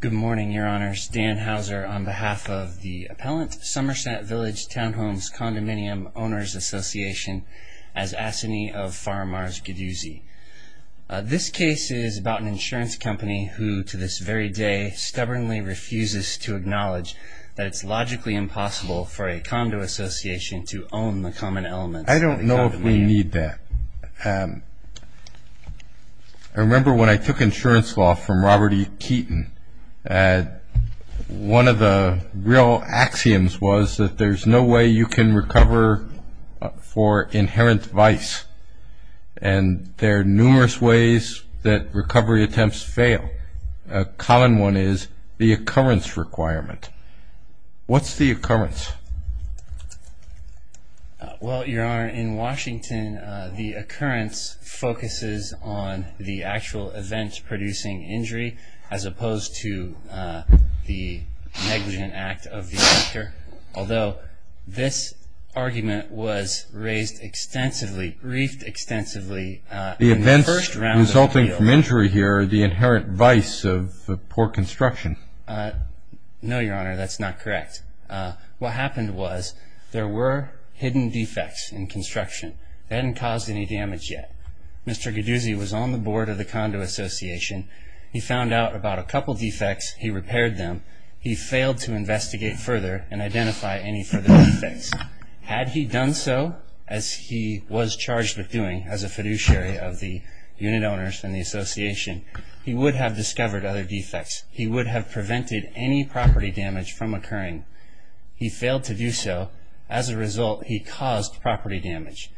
Good morning, Your Honors. Dan Hauser on behalf of the Appellant Somerset Village Townhomes Condominium Owners Association, as assignee of Farmars-Gaduzzi. This case is about an insurance company who, to this very day, stubbornly refuses to acknowledge that it's logically impossible for a condo association to own the common elements of the condominium. I don't know if we need that. I remember when I took insurance law from Robert E. Keaton, one of the real axioms was that there's no way you can recover for inherent vice, and there are numerous ways that recovery attempts fail. A common one is the occurrence requirement. What's the occurrence? Well, Your Honor, in Washington, the occurrence focuses on the actual event producing injury as opposed to the negligent act of the offender, although this argument was raised extensively, briefed extensively in the first round of appeal. The events resulting from injury here are the inherent vice of poor construction. No, Your Honor, that's not correct. What happened was there were hidden defects in construction that hadn't caused any damage yet. Mr. Gaduzzi was on the board of the condo association. He found out about a couple defects. He repaired them. He failed to investigate further and identify any further defects. Had he done so, as he was charged with doing as a fiduciary of the unit owners and the association, he would have discovered other defects. He would have prevented any property damage from occurring. He failed to do so. As a result, he caused property damage.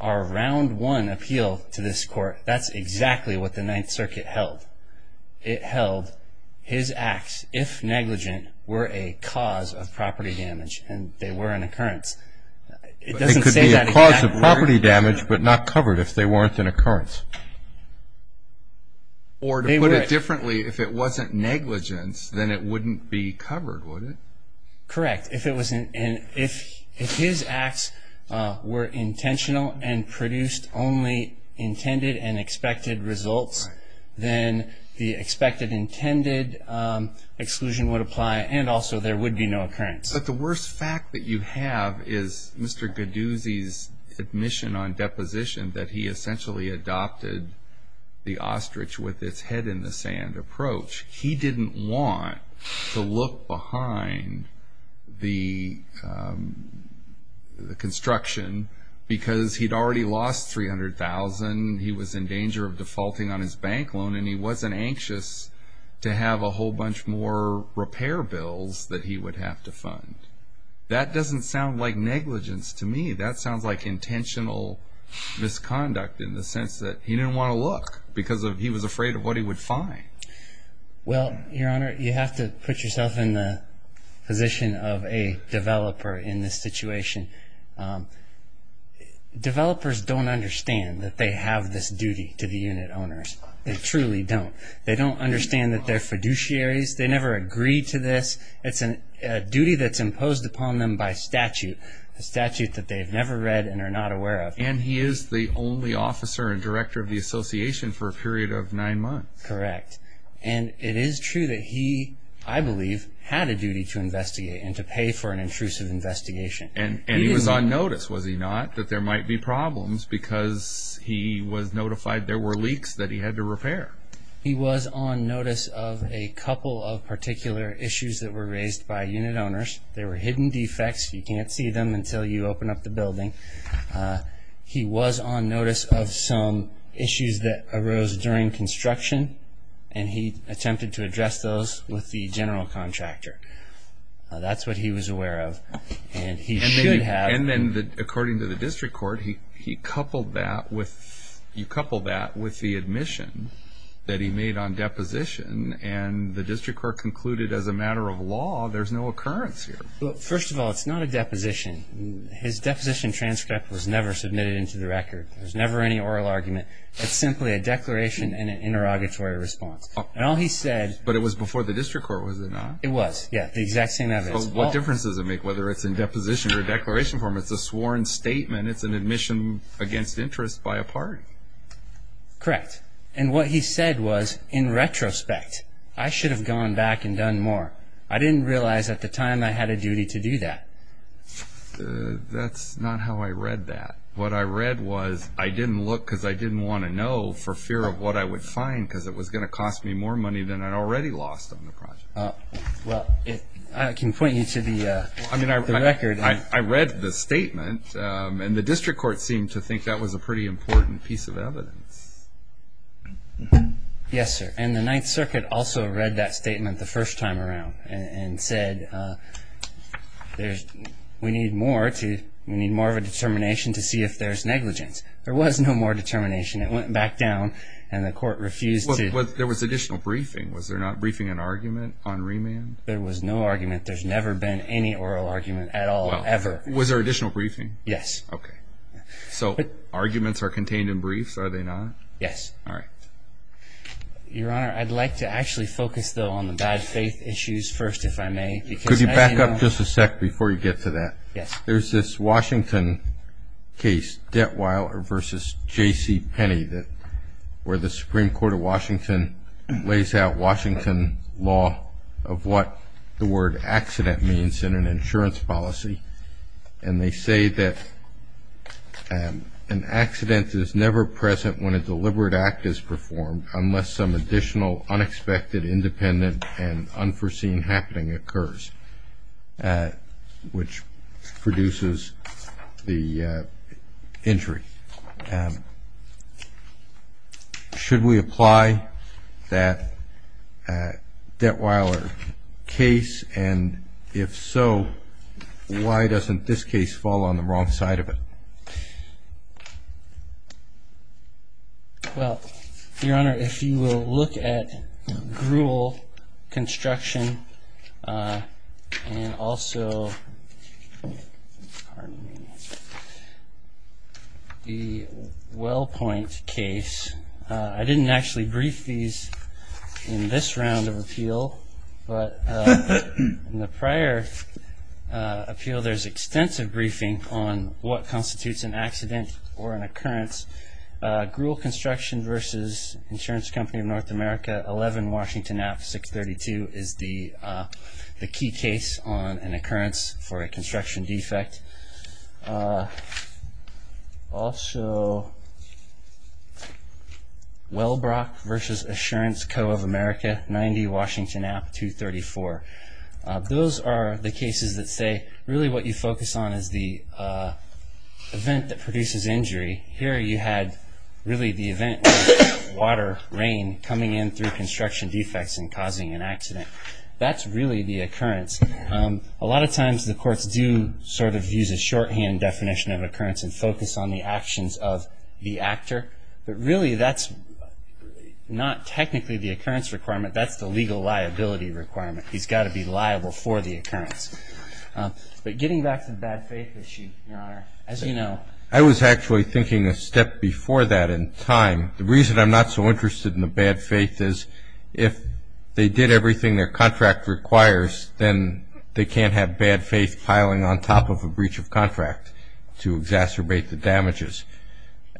Our round one appeal to this Court, that's exactly what the Ninth Circuit held. It held his acts, if negligent, were a cause of property damage, and they were an occurrence. It doesn't say that exactly. It could be a cause of property damage but not covered if they weren't an occurrence. Or to put it differently, if it wasn't negligence, then it wouldn't be covered, would it? Correct. If his acts were intentional and produced only intended and expected results, then the expected, intended exclusion would apply, and also there would be no occurrence. But the worst fact that you have is Mr. Gaduzzi's admission on deposition that he essentially adopted the ostrich with its head in the sand approach. He didn't want to look behind the construction because he'd already lost $300,000. He was in danger of defaulting on his bank loan, and he wasn't anxious to have a whole bunch more repair bills that he would have to fund. That doesn't sound like negligence to me. That sounds like intentional misconduct in the sense that he didn't want to look because he was afraid of what he would find. Well, Your Honor, you have to put yourself in the position of a developer in this situation. Developers don't understand that they have this duty to the unit owners. They truly don't. They don't understand that they're fiduciaries. They never agreed to this. It's a duty that's imposed upon them by statute, a statute that they've never read and are not aware of. And he is the only officer and director of the association for a period of nine months. Correct. And it is true that he, I believe, had a duty to investigate and to pay for an intrusive investigation. And he was on notice, was he not, that there might be problems because he was notified there were leaks that he had to repair? He was on notice of a couple of particular issues that were raised by unit owners. They were hidden defects. You can't see them until you open up the building. He was on notice of some issues that arose during construction, and he attempted to address those with the general contractor. That's what he was aware of. And he should have. And then, according to the district court, he coupled that with the admission that he made on deposition, and the district court concluded, as a matter of law, there's no occurrence here. First of all, it's not a deposition. His deposition transcript was never submitted into the record. There's never any oral argument. It's simply a declaration and an interrogatory response. But it was before the district court, was it not? It was, yeah. The exact same evidence. What difference does it make whether it's in deposition or declaration form? It's a sworn statement. It's an admission against interest by a party. Correct. And what he said was, in retrospect, I should have gone back and done more. I didn't realize at the time I had a duty to do that. That's not how I read that. What I read was I didn't look because I didn't want to know for fear of what I would find because it was going to cost me more money than I'd already lost on the project. Well, I can point you to the record. I read the statement, and the district court seemed to think that was a pretty important piece of evidence. Yes, sir. And the Ninth Circuit also read that statement the first time around and said we need more of a determination to see if there's negligence. There was no more determination. It went back down, and the court refused to. There was additional briefing. Was there not briefing and argument on remand? There was no argument. There's never been any oral argument at all, ever. Was there additional briefing? Yes. Okay. So arguments are contained in briefs, are they not? Yes. All right. Your Honor, I'd like to actually focus, though, on the bad faith issues first, if I may. Could you back up just a sec before you get to that? Yes. There's this Washington case, Detwile v. J.C. Penney, where the Supreme Court of Washington lays out Washington law of what the word accident means in an insurance policy. And they say that an accident is never present when a deliberate act is performed, unless some additional unexpected, independent, and unforeseen happening occurs, which produces the injury. Should we apply that Detwiler case? And if so, why doesn't this case fall on the wrong side of it? Well, Your Honor, if you will look at Gruel Construction and also the Wellpoint case. I didn't actually brief these in this round of appeal, but in the prior appeal there's extensive briefing on what constitutes an accident or an occurrence. Gruel Construction v. Insurance Company of North America, 11 Washington App, 632, is the key case on an occurrence for a construction defect. Also, Wellbrock v. Assurance Co. of America, 90 Washington App, 234. Those are the cases that say really what you focus on is the event that produces injury. Here you had really the event of water, rain, coming in through construction defects and causing an accident. That's really the occurrence. A lot of times the courts do sort of use a shorthand definition of occurrence and focus on the actions of the actor, but really that's not technically the occurrence requirement. That's the legal liability requirement. He's got to be liable for the occurrence. But getting back to the bad faith issue, Your Honor, as you know. I was actually thinking a step before that in time. The reason I'm not so interested in the bad faith is if they did everything their contract requires, then they can't have bad faith piling on top of a breach of contract to exacerbate the damages.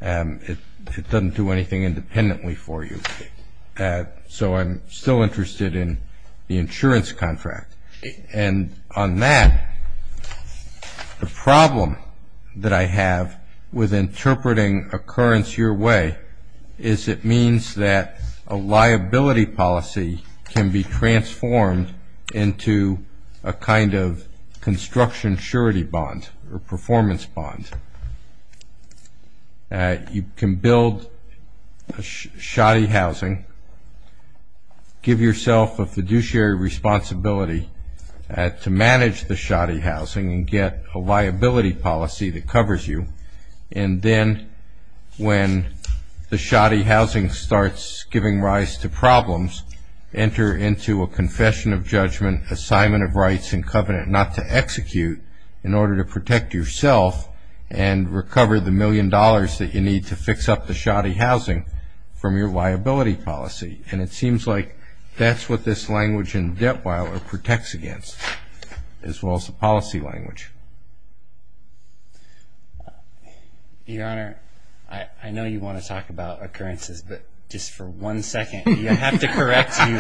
It doesn't do anything independently for you. So I'm still interested in the insurance contract. And on that, the problem that I have with interpreting occurrence your way is it means that a liability policy can be transformed into a kind of construction surety bond or performance bond. You can build a shoddy housing, give yourself a fiduciary responsibility to manage the shoddy housing and get a liability policy that covers you. And then when the shoddy housing starts giving rise to problems, enter into a confession of judgment, assignment of rights and covenant not to execute in order to protect yourself and recover the million dollars that you need to fix up the shoddy housing from your liability policy. And it seems like that's what this language in Deptweiler protects against, as well as the policy language. Your Honor, I know you want to talk about occurrences, but just for one second, I have to correct you.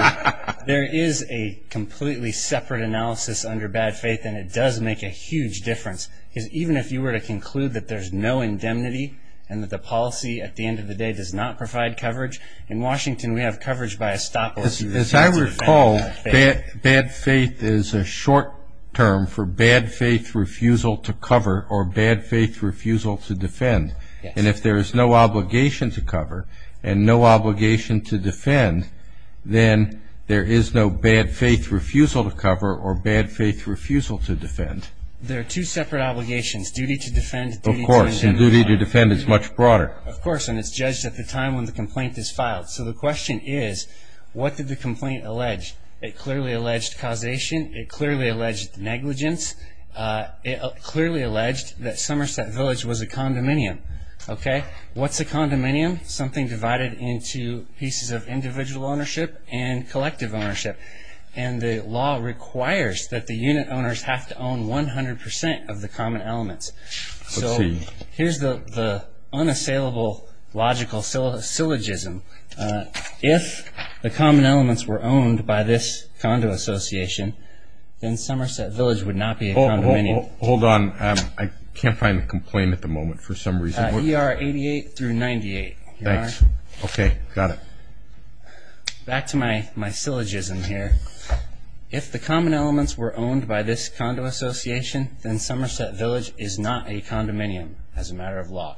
There is a completely separate analysis under bad faith, and it does make a huge difference. Because even if you were to conclude that there's no indemnity and that the policy at the end of the day does not provide coverage, in Washington we have coverage by a stop loss. As I recall, bad faith is a short term for bad faith refusal to cover or bad faith refusal to defend. And if there is no obligation to cover and no obligation to defend, then there is no bad faith refusal to cover or bad faith refusal to defend. There are two separate obligations, duty to defend and duty to indemnify. Of course, and duty to defend is much broader. Of course, and it's judged at the time when the complaint is filed. So the question is, what did the complaint allege? It clearly alleged causation. It clearly alleged negligence. It clearly alleged that Somerset Village was a condominium. What's a condominium? Something divided into pieces of individual ownership and collective ownership. And the law requires that the unit owners have to own 100% of the common elements. So here's the unassailable logical syllogism. If the common elements were owned by this condo association, then Somerset Village would not be a condominium. Hold on. I can't find the complaint at the moment for some reason. ER 88 through 98. Thanks. Okay, got it. Back to my syllogism here. If the common elements were owned by this condo association, then Somerset Village is not a condominium as a matter of law.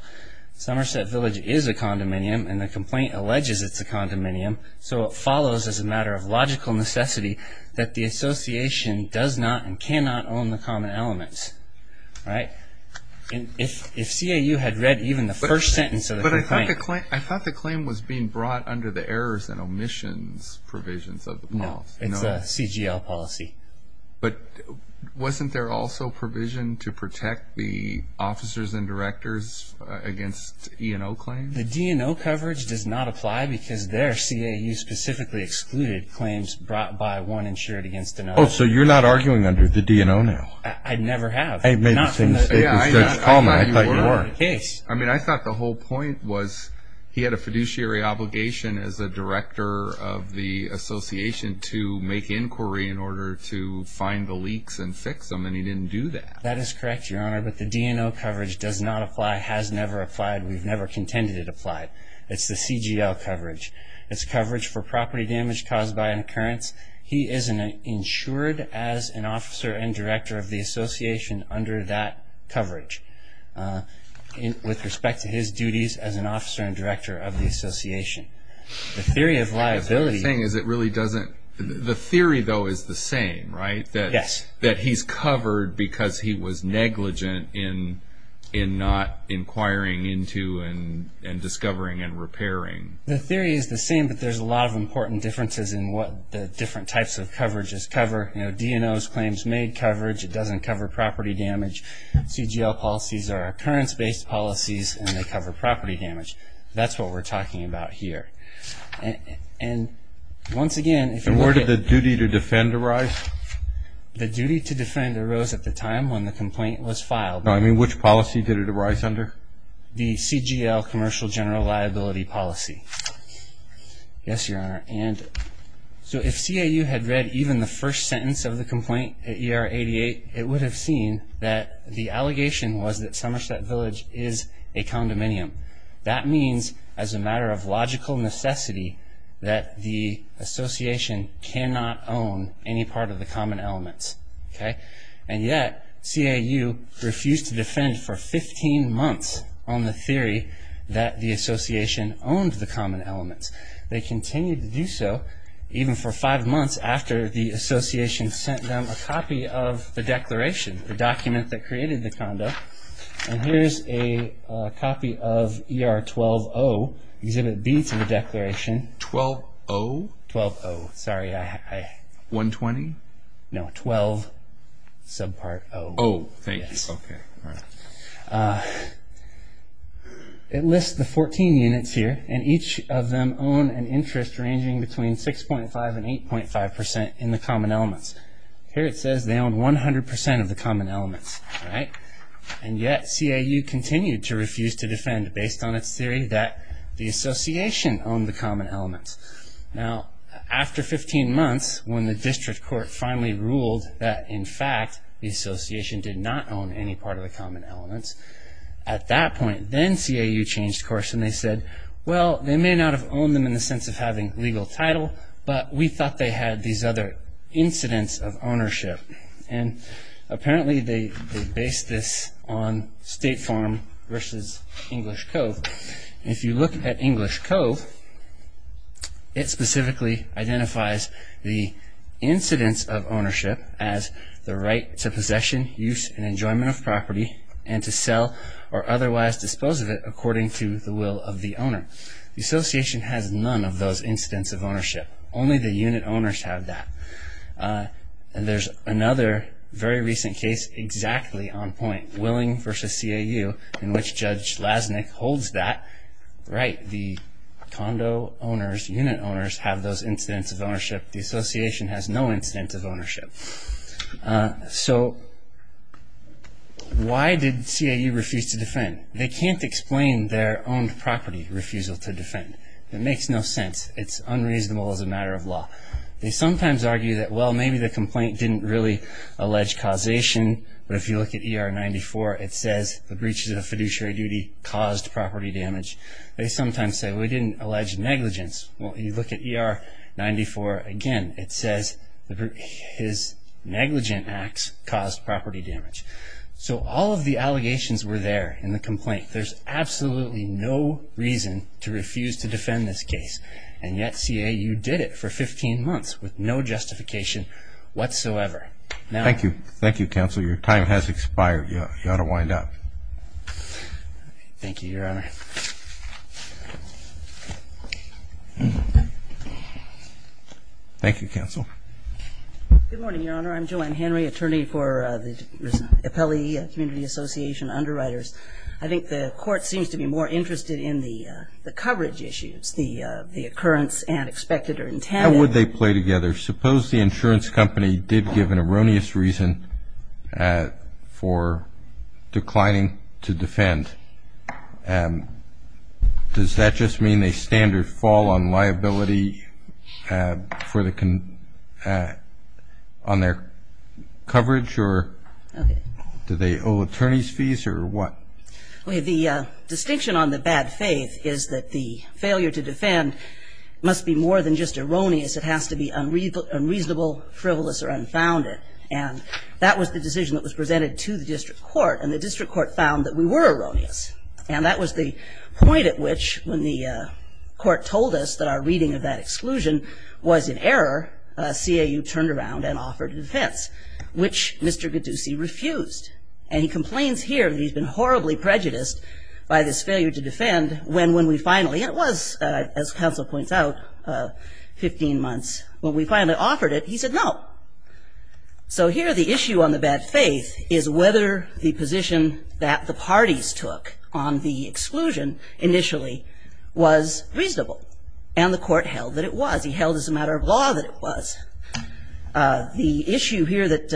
Somerset Village is a condominium, and the complaint alleges it's a condominium. So it follows as a matter of logical necessity that the association does not and cannot own the common elements. If CAU had read even the first sentence of the complaint. But I thought the claim was being brought under the errors and omissions provisions of the policy. No, it's a CGL policy. But wasn't there also provision to protect the officers and directors against E&O claims? The D&O coverage does not apply because their CAU specifically excluded claims brought by one insured against another. Oh, so you're not arguing under the D&O now? I never have. I made the same mistake with Judge Coleman. I thought you were. I thought the whole point was he had a fiduciary obligation as a director of the association to make inquiry in order to find the leaks and fix them, and he didn't do that. That is correct, Your Honor, but the D&O coverage does not apply, has never applied. We've never contended it applied. It's the CGL coverage. It's coverage for property damage caused by an occurrence. He is insured as an officer and director of the association under that coverage The theory though is the same, right? Yes. That he's covered because he was negligent in not inquiring into and discovering and repairing. The theory is the same, but there's a lot of important differences in what the different types of coverages cover. D&O's claims made coverage, it doesn't cover property damage. CGL policies are occurrence-based policies, and they cover property damage. That's what we're talking about here. And once again, if you look at... And where did the duty to defend arise? The duty to defend arose at the time when the complaint was filed. No, I mean which policy did it arise under? The CGL, commercial general liability policy. Yes, Your Honor. And so if CAU had read even the first sentence of the complaint at ER 88, it would have seen that the allegation was that Somerset Village is a condominium. That means, as a matter of logical necessity, that the association cannot own any part of the common elements. And yet, CAU refused to defend for 15 months on the theory that the association owned the common elements. They continued to do so even for five months after the association sent them a copy of the declaration, the document that created the condo. And here's a copy of ER 12-0, Exhibit B to the declaration. 12-0? 12-0. Sorry, I... 120? No, 12, subpart O. O, thank you. Okay. It lists the 14 units here, and each of them own an interest ranging between 6.5% and 8.5% in the common elements. Here it says they own 100% of the common elements, right? And yet, CAU continued to refuse to defend based on its theory that the association owned the common elements. Now, after 15 months, when the district court finally ruled that, in fact, the association did not own any part of the common elements, at that point, then CAU changed course and they said, Well, they may not have owned them in the sense of having legal title, but we thought they had these other incidents of ownership. And apparently they based this on State Farm versus English Cove. If you look at English Cove, it specifically identifies the incidents of ownership as The association has none of those incidents of ownership. Only the unit owners have that. And there's another very recent case exactly on point, Willing versus CAU, in which Judge Lasnik holds that. Right, the condo owners, unit owners, have those incidents of ownership. The association has no incidents of ownership. So, why did CAU refuse to defend? They can't explain their owned property refusal to defend. It makes no sense. It's unreasonable as a matter of law. They sometimes argue that, well, maybe the complaint didn't really allege causation, but if you look at ER 94, it says the breaches of fiduciary duty caused property damage. They sometimes say, well, we didn't allege negligence. Well, you look at ER 94, again, it says his negligent acts caused property damage. So, all of the allegations were there in the complaint. There's absolutely no reason to refuse to defend this case. And yet, CAU did it for 15 months with no justification whatsoever. Thank you. Thank you, counsel. Your time has expired. You ought to wind up. Thank you, Your Honor. Thank you, counsel. Good morning, Your Honor. I'm Joanne Henry, attorney for the Appellee Community Association Underwriters. I think the court seems to be more interested in the coverage issues, the occurrence and expected or intended. How would they play together? Suppose the insurance company did give an erroneous reason for declining to defend. Does that just mean a standard fall on liability on their coverage or do they owe attorney's fees or what? The distinction on the bad faith is that the failure to defend must be more than just erroneous. It has to be unreasonable, frivolous or unfounded. And that was the decision that was presented to the district court. And the district court found that we were erroneous. And that was the point at which, when the court told us that our reading of that exclusion was in error, CAU turned around and offered a defense, which Mr. Gattusi refused. And he complains here that he's been horribly prejudiced by this failure to defend when we finally, and it was, as counsel points out, 15 months when we finally offered it, he said no. So here the issue on the bad faith is whether the position that the parties took on the exclusion initially was reasonable. And the court held that it was. He held as a matter of law that it was. The issue here that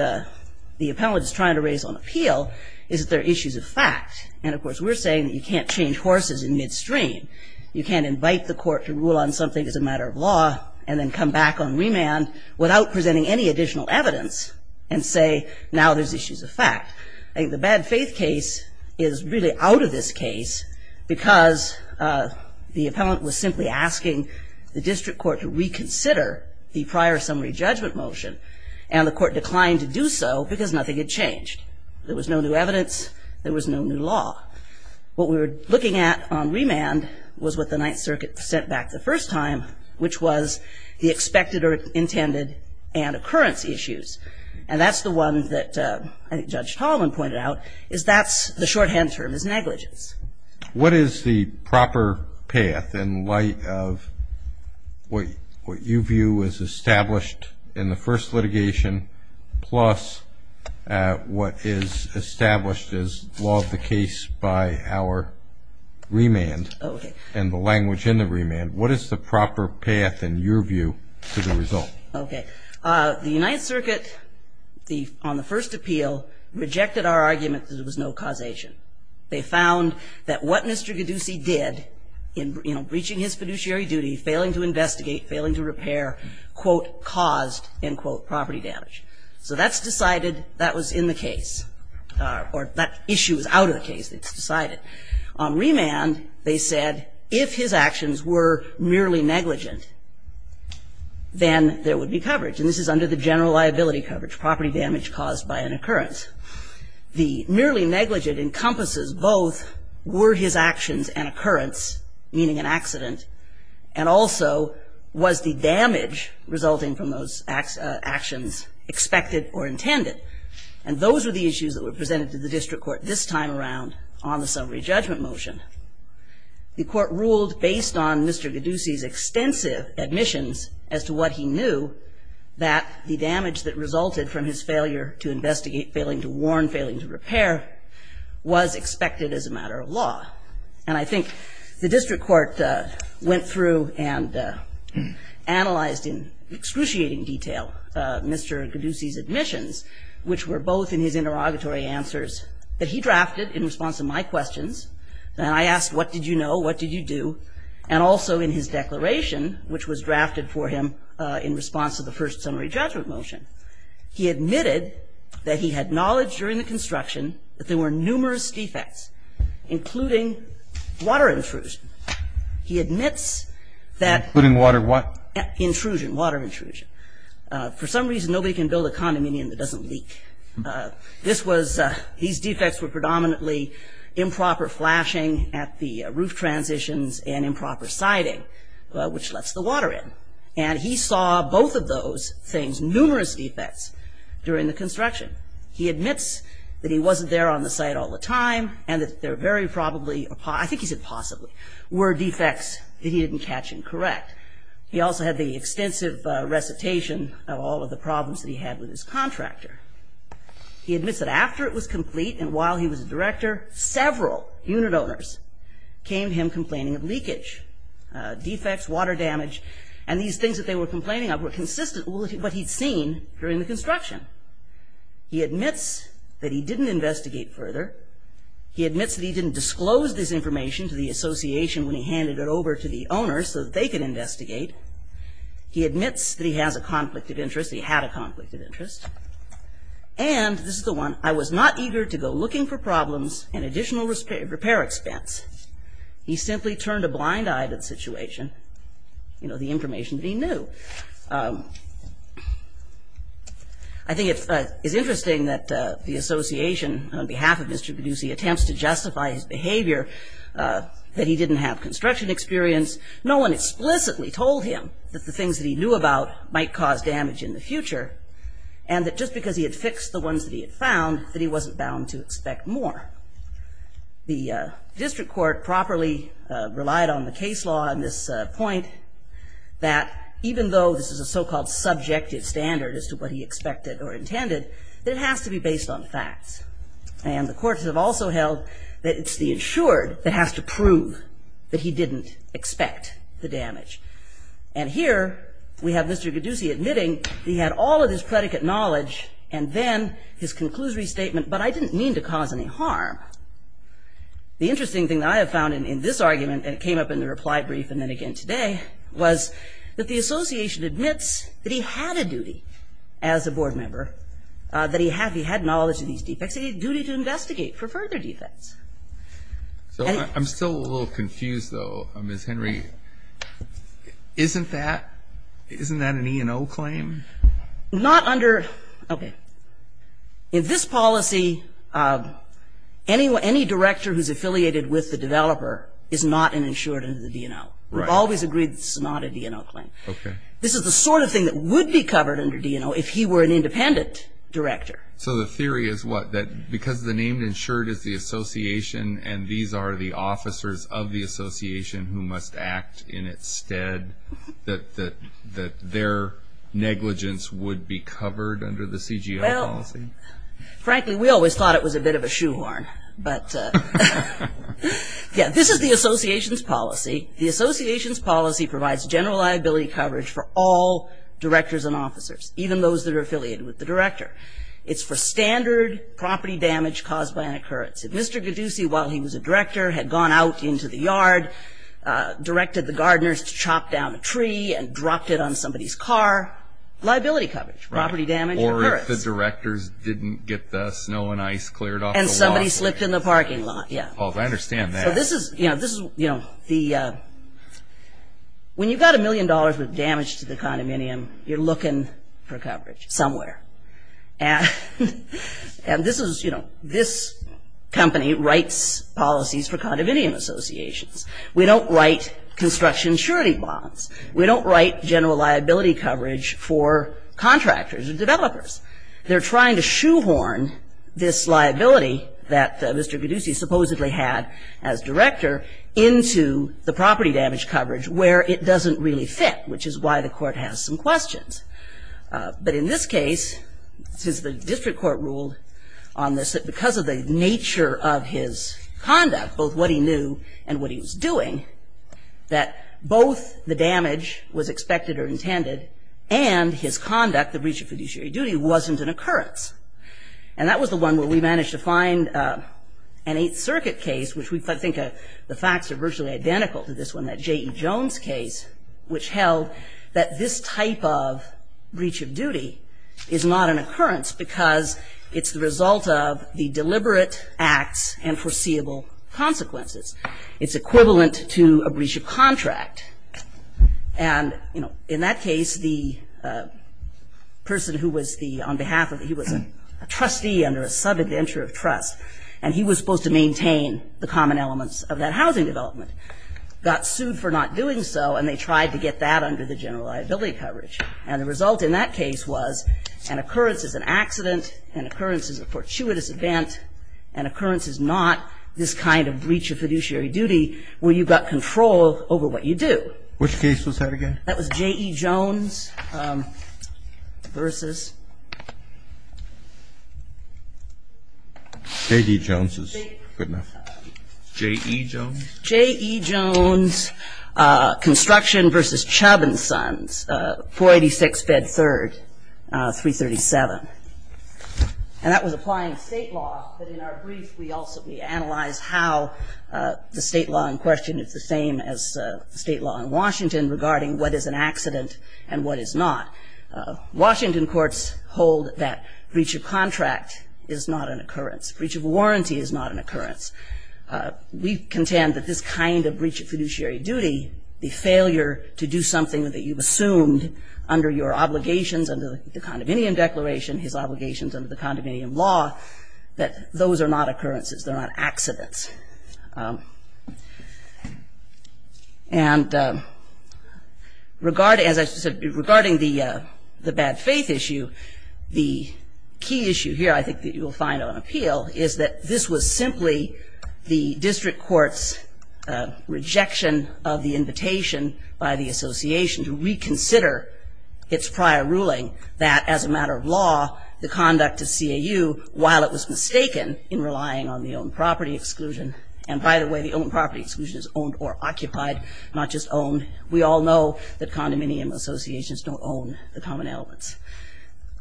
the appellant is trying to raise on appeal is that there are issues of fact. And of course, we're saying that you can't change horses in midstream. You can't invite the court to rule on something as a matter of law and then come back on remand without presenting any additional evidence and say now there's issues of fact. I think the bad faith case is really out of this case because the appellant was simply asking the district court to reconsider the prior summary judgment motion. And the court declined to do so because nothing had changed. There was no new evidence. There was no new law. What we were looking at on remand was what the Ninth Circuit sent back the first time, which was the expected or intended and occurrence issues. And that's the one that Judge Tallman pointed out is that's the shorthand term is negligence. What is the proper path in light of what you view as established in the first litigation plus what is established as law of the case by our remand and the language in the remand? What is the proper path in your view to the result? Okay. The Ninth Circuit on the first appeal rejected our argument that there was no causation. They found that what Mr. Gaddusi did in breaching his fiduciary duty, failing to investigate, failing to repair, quote, caused, end quote, property damage. So that's decided that was in the case or that issue is out of the case. It's decided. On remand, they said if his actions were merely negligent, then there would be coverage. And this is under the general liability coverage, property damage caused by an occurrence. The merely negligent encompasses both were his actions an occurrence, meaning an accident, and also was the damage resulting from those actions expected or intended. And those were the issues that were presented to the district court this time around on the summary judgment motion. The court ruled based on Mr. Gaddusi's extensive admissions as to what he knew, that the damage that resulted from his failure to investigate, failing to warn, failing to repair was expected as a matter of law. And I think the district court went through and analyzed in excruciating detail Mr. Gaddusi's admissions, which were both in his interrogatory answers that he drafted in response to my questions. And I asked, what did you know? What did you do? And also in his declaration, which was drafted for him in response to the first summary judgment motion. He admitted that he had knowledge during the construction that there were numerous defects, including water intrusion. He admits that- Including water what? Intrusion, water intrusion. For some reason, nobody can build a condominium that doesn't leak. These defects were predominantly improper flashing at the roof transitions and improper siding, which lets the water in. And he saw both of those things, numerous defects, during the construction. He admits that he wasn't there on the site all the time, and that there very probably, I think he said possibly, were defects that he didn't catch and correct. He also had the extensive recitation of all of the problems that he had with his contractor. He admits that after it was complete and while he was director, several unit owners came to him complaining of leakage, defects, water damage, and these things that they were complaining of were consistent with what he'd seen during the construction. He admits that he didn't investigate further. He admits that he didn't disclose this information to the association when he handed it over to the owner so that they could investigate. He admits that he has a conflict of interest, he had a conflict of interest. And, this is the one, I was not eager to go looking for problems and additional repair expense. He simply turned a blind eye to the situation. You know, the information that he knew. I think it's interesting that the association, on behalf of Mr. Paducey, attempts to justify his behavior, that he didn't have construction experience. No one explicitly told him that the things that he knew about might cause damage in the future, and that just because he had fixed the ones that he had found, that he wasn't bound to expect more. The district court properly relied on the case law on this point, that even though this is a so-called subjective standard as to what he expected or intended, that it has to be based on facts. And the courts have also held that it's the insured that has to prove that he didn't expect the damage. And here, we have Mr. Paducey admitting that he had all of his predicate knowledge, and then his conclusory statement, but I didn't mean to cause any harm. The interesting thing that I have found in this argument, and it came up in the reply brief and then again today, was that the association admits that he had a duty as a board member, that he had knowledge of these defects. He had a duty to investigate for further defects. So, I'm still a little confused, though, Ms. Henry. Isn't that an E&O claim? Not under, okay. In this policy, any director who's affiliated with the developer is not an insured under the D&O. We've always agreed this is not a D&O claim. Okay. This is the sort of thing that would be covered under D&O if he were an independent director. So, the theory is what? That because the name insured is the association, and these are the officers of the association who must act in its stead, that their negligence would be covered under the CGL policy? Well, frankly, we always thought it was a bit of a shoehorn. But, yeah, this is the association's policy. The association's policy provides general liability coverage for all directors and officers, even those that are affiliated with the director. It's for standard property damage caused by an occurrence. If Mr. Gaddusi, while he was a director, had gone out into the yard, directed the gardeners to chop down a tree and dropped it on somebody's car, liability coverage, property damage. Or if the directors didn't get the snow and ice cleared off the lot. And somebody slipped in the parking lot, yeah. Oh, I understand that. So, this is, you know, when you've got a million dollars worth of damage to the condominium, you're looking for coverage somewhere. And this is, you know, this company writes policies for condominium associations. We don't write construction surety bonds. We don't write general liability coverage for contractors and developers. They're trying to shoehorn this liability that Mr. Gaddusi supposedly had as director into the property damage coverage where it doesn't really fit, which is why the court has some questions. But in this case, since the district court ruled on this, that because of the nature of his conduct, both what he knew and what he was doing, that both the damage was expected or intended, and his conduct, the breach of fiduciary duty, wasn't an occurrence. And that was the one where we managed to find an Eighth Circuit case, which I think the facts are virtually identical to this one, that J.E. Jones case, which held that this type of breach of duty is not an occurrence because it's the result of the deliberate acts and foreseeable consequences. It's equivalent to a breach of contract. And, you know, in that case, the person who was the, on behalf of, he was a trustee under a subadventure of trust, and he was supposed to maintain the common elements of that housing development, got sued for not doing so, and they tried to get that under the general liability coverage. And the result in that case was an occurrence is an accident, an occurrence is a fortuitous event, an occurrence is not this kind of breach of fiduciary duty where you've got control over what you do. Kennedy. Which case was that again? That was J.E. Jones versus. J.D. Jones is good enough. J.E. Jones? J.E. Jones, construction versus Chubb and Sons, 486 Bed 3rd, 337. And that was applying state law, but in our brief, we also analyzed how the state law in question is the same as state law in Washington regarding what is an accident and what is not. Washington courts hold that breach of contract is not an occurrence. Breach of warranty is not an occurrence. We contend that this kind of breach of fiduciary duty, the failure to do something that you've assumed under your obligations, under the condominium declaration, his obligations under the condominium law, that those are not occurrences. They're not accidents. And as I said, regarding the bad faith issue, the key issue here I think that you will find on appeal is that this was simply the district court's rejection of the invitation by the association to reconsider its prior ruling that as a matter of law, the conduct of CAU, while it was mistaken in relying on the owned property exclusion, and by the way, the owned property exclusion is owned or occupied, not just owned. We all know that condominium associations don't own the common elements.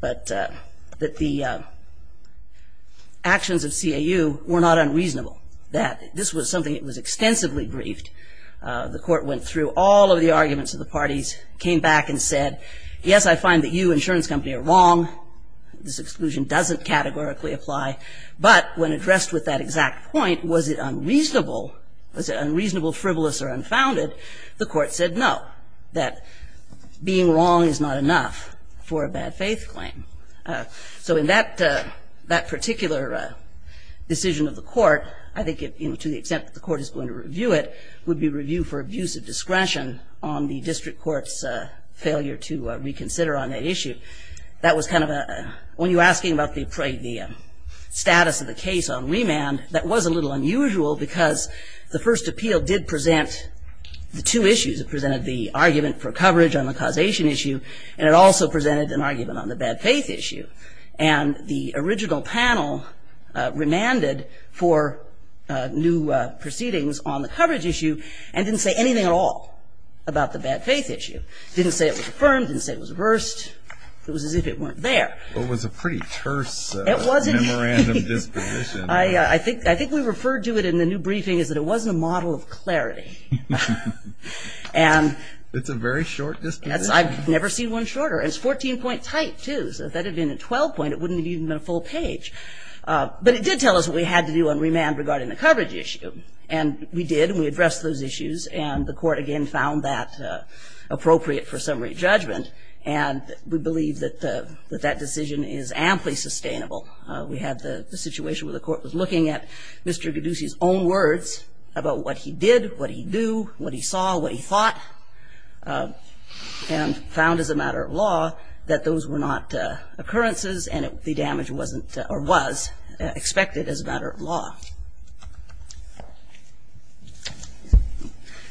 But that the actions of CAU were not unreasonable. This was something that was extensively briefed. The court went through all of the arguments of the parties, came back and said, yes, I find that you, insurance company, are wrong. This exclusion doesn't categorically apply. But when addressed with that exact point, was it unreasonable, frivolous, or unfounded, the court said no, that being wrong is not enough for a bad faith claim. So in that particular decision of the court, I think to the extent that the court is going to review it, would be review for abuse of discretion on the district court's failure to reconsider on that issue. That was kind of a, when you're asking about the status of the case on remand, that was a little unusual because the first appeal did present the two issues. It presented the argument for coverage on the causation issue, and it also presented an argument on the bad faith issue. And the original panel remanded for new proceedings on the coverage issue and didn't say anything at all about the bad faith issue. Didn't say it was affirmed, didn't say it was reversed. It was as if it weren't there. It was a pretty terse memorandum disposition. I think we referred to it in the new briefing is that it wasn't a model of clarity. It's a very short disposition. I've never seen one shorter. It's 14-point tight, too. So if that had been a 12-point, it wouldn't have even been a full page. But it did tell us what we had to do on remand regarding the coverage issue. And we did, and we addressed those issues, and the court again found that appropriate for summary judgment. And we believe that that decision is amply sustainable. We had the situation where the court was looking at Mr. Gaddusi's own words about what he did, what he knew, what he saw, what he thought, and found as a matter of law that those were not occurrences and the damage wasn't or was expected as a matter of law.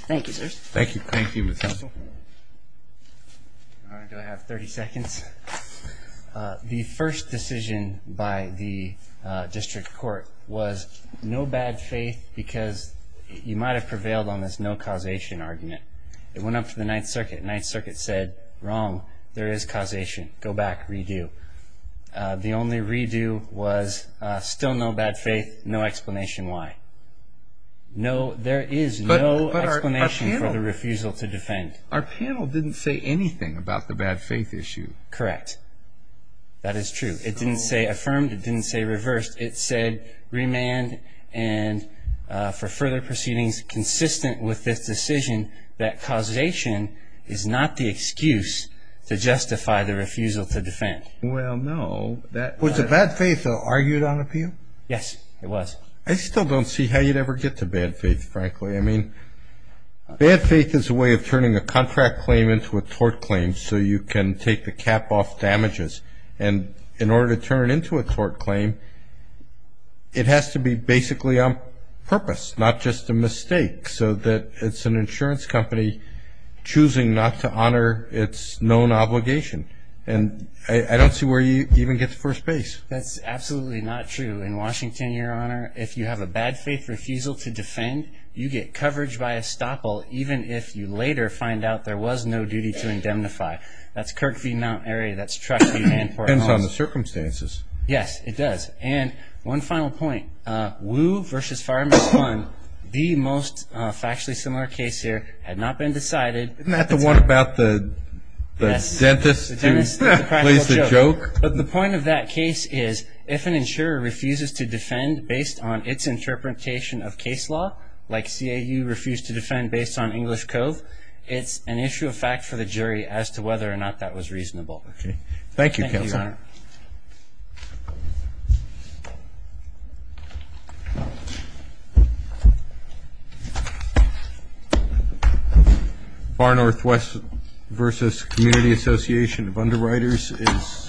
Thank you, sirs. Thank you. Thank you, Ms. Council. Do I have 30 seconds? The first decision by the district court was no bad faith because you might have prevailed on this no causation argument. It went up to the Ninth Circuit. Ninth Circuit said, wrong, there is causation, go back, redo. The only redo was still no bad faith, no explanation why. There is no explanation for the refusal to defend. Our panel didn't say anything about the bad faith issue. Correct. That is true. It didn't say affirmed. It didn't say reversed. It said remand and for further proceedings consistent with this decision that causation is not the excuse to justify the refusal to defend. Well, no. Was the bad faith argued on appeal? Yes, it was. I still don't see how you'd ever get to bad faith, frankly. I mean, bad faith is a way of turning a contract claim into a tort claim so you can take the cap off damages. And in order to turn it into a tort claim, it has to be basically on purpose, not just a mistake, so that it's an insurance company choosing not to honor its known obligation. And I don't see where you even get to first base. That's absolutely not true. In Washington, Your Honor, if you have a bad faith refusal to defend, you get coverage by estoppel, even if you later find out there was no duty to indemnify. That's Kirk v. Mount Airy. That's Trush v. Manport. It depends on the circumstances. Yes, it does. And one final point. Wu v. Fireman's Fund, the most factually similar case here, had not been decided. Isn't that the one about the dentist who plays the joke? The point of that case is if an insurer refuses to defend based on its interpretation of case law, like CAU refused to defend based on English code, it's an issue of fact for the jury as to whether or not that was reasonable. Okay. Thank you, Counsel. Thank you, Your Honor. Thank you. Far Northwest v. Community Association of Underwriters is submitted.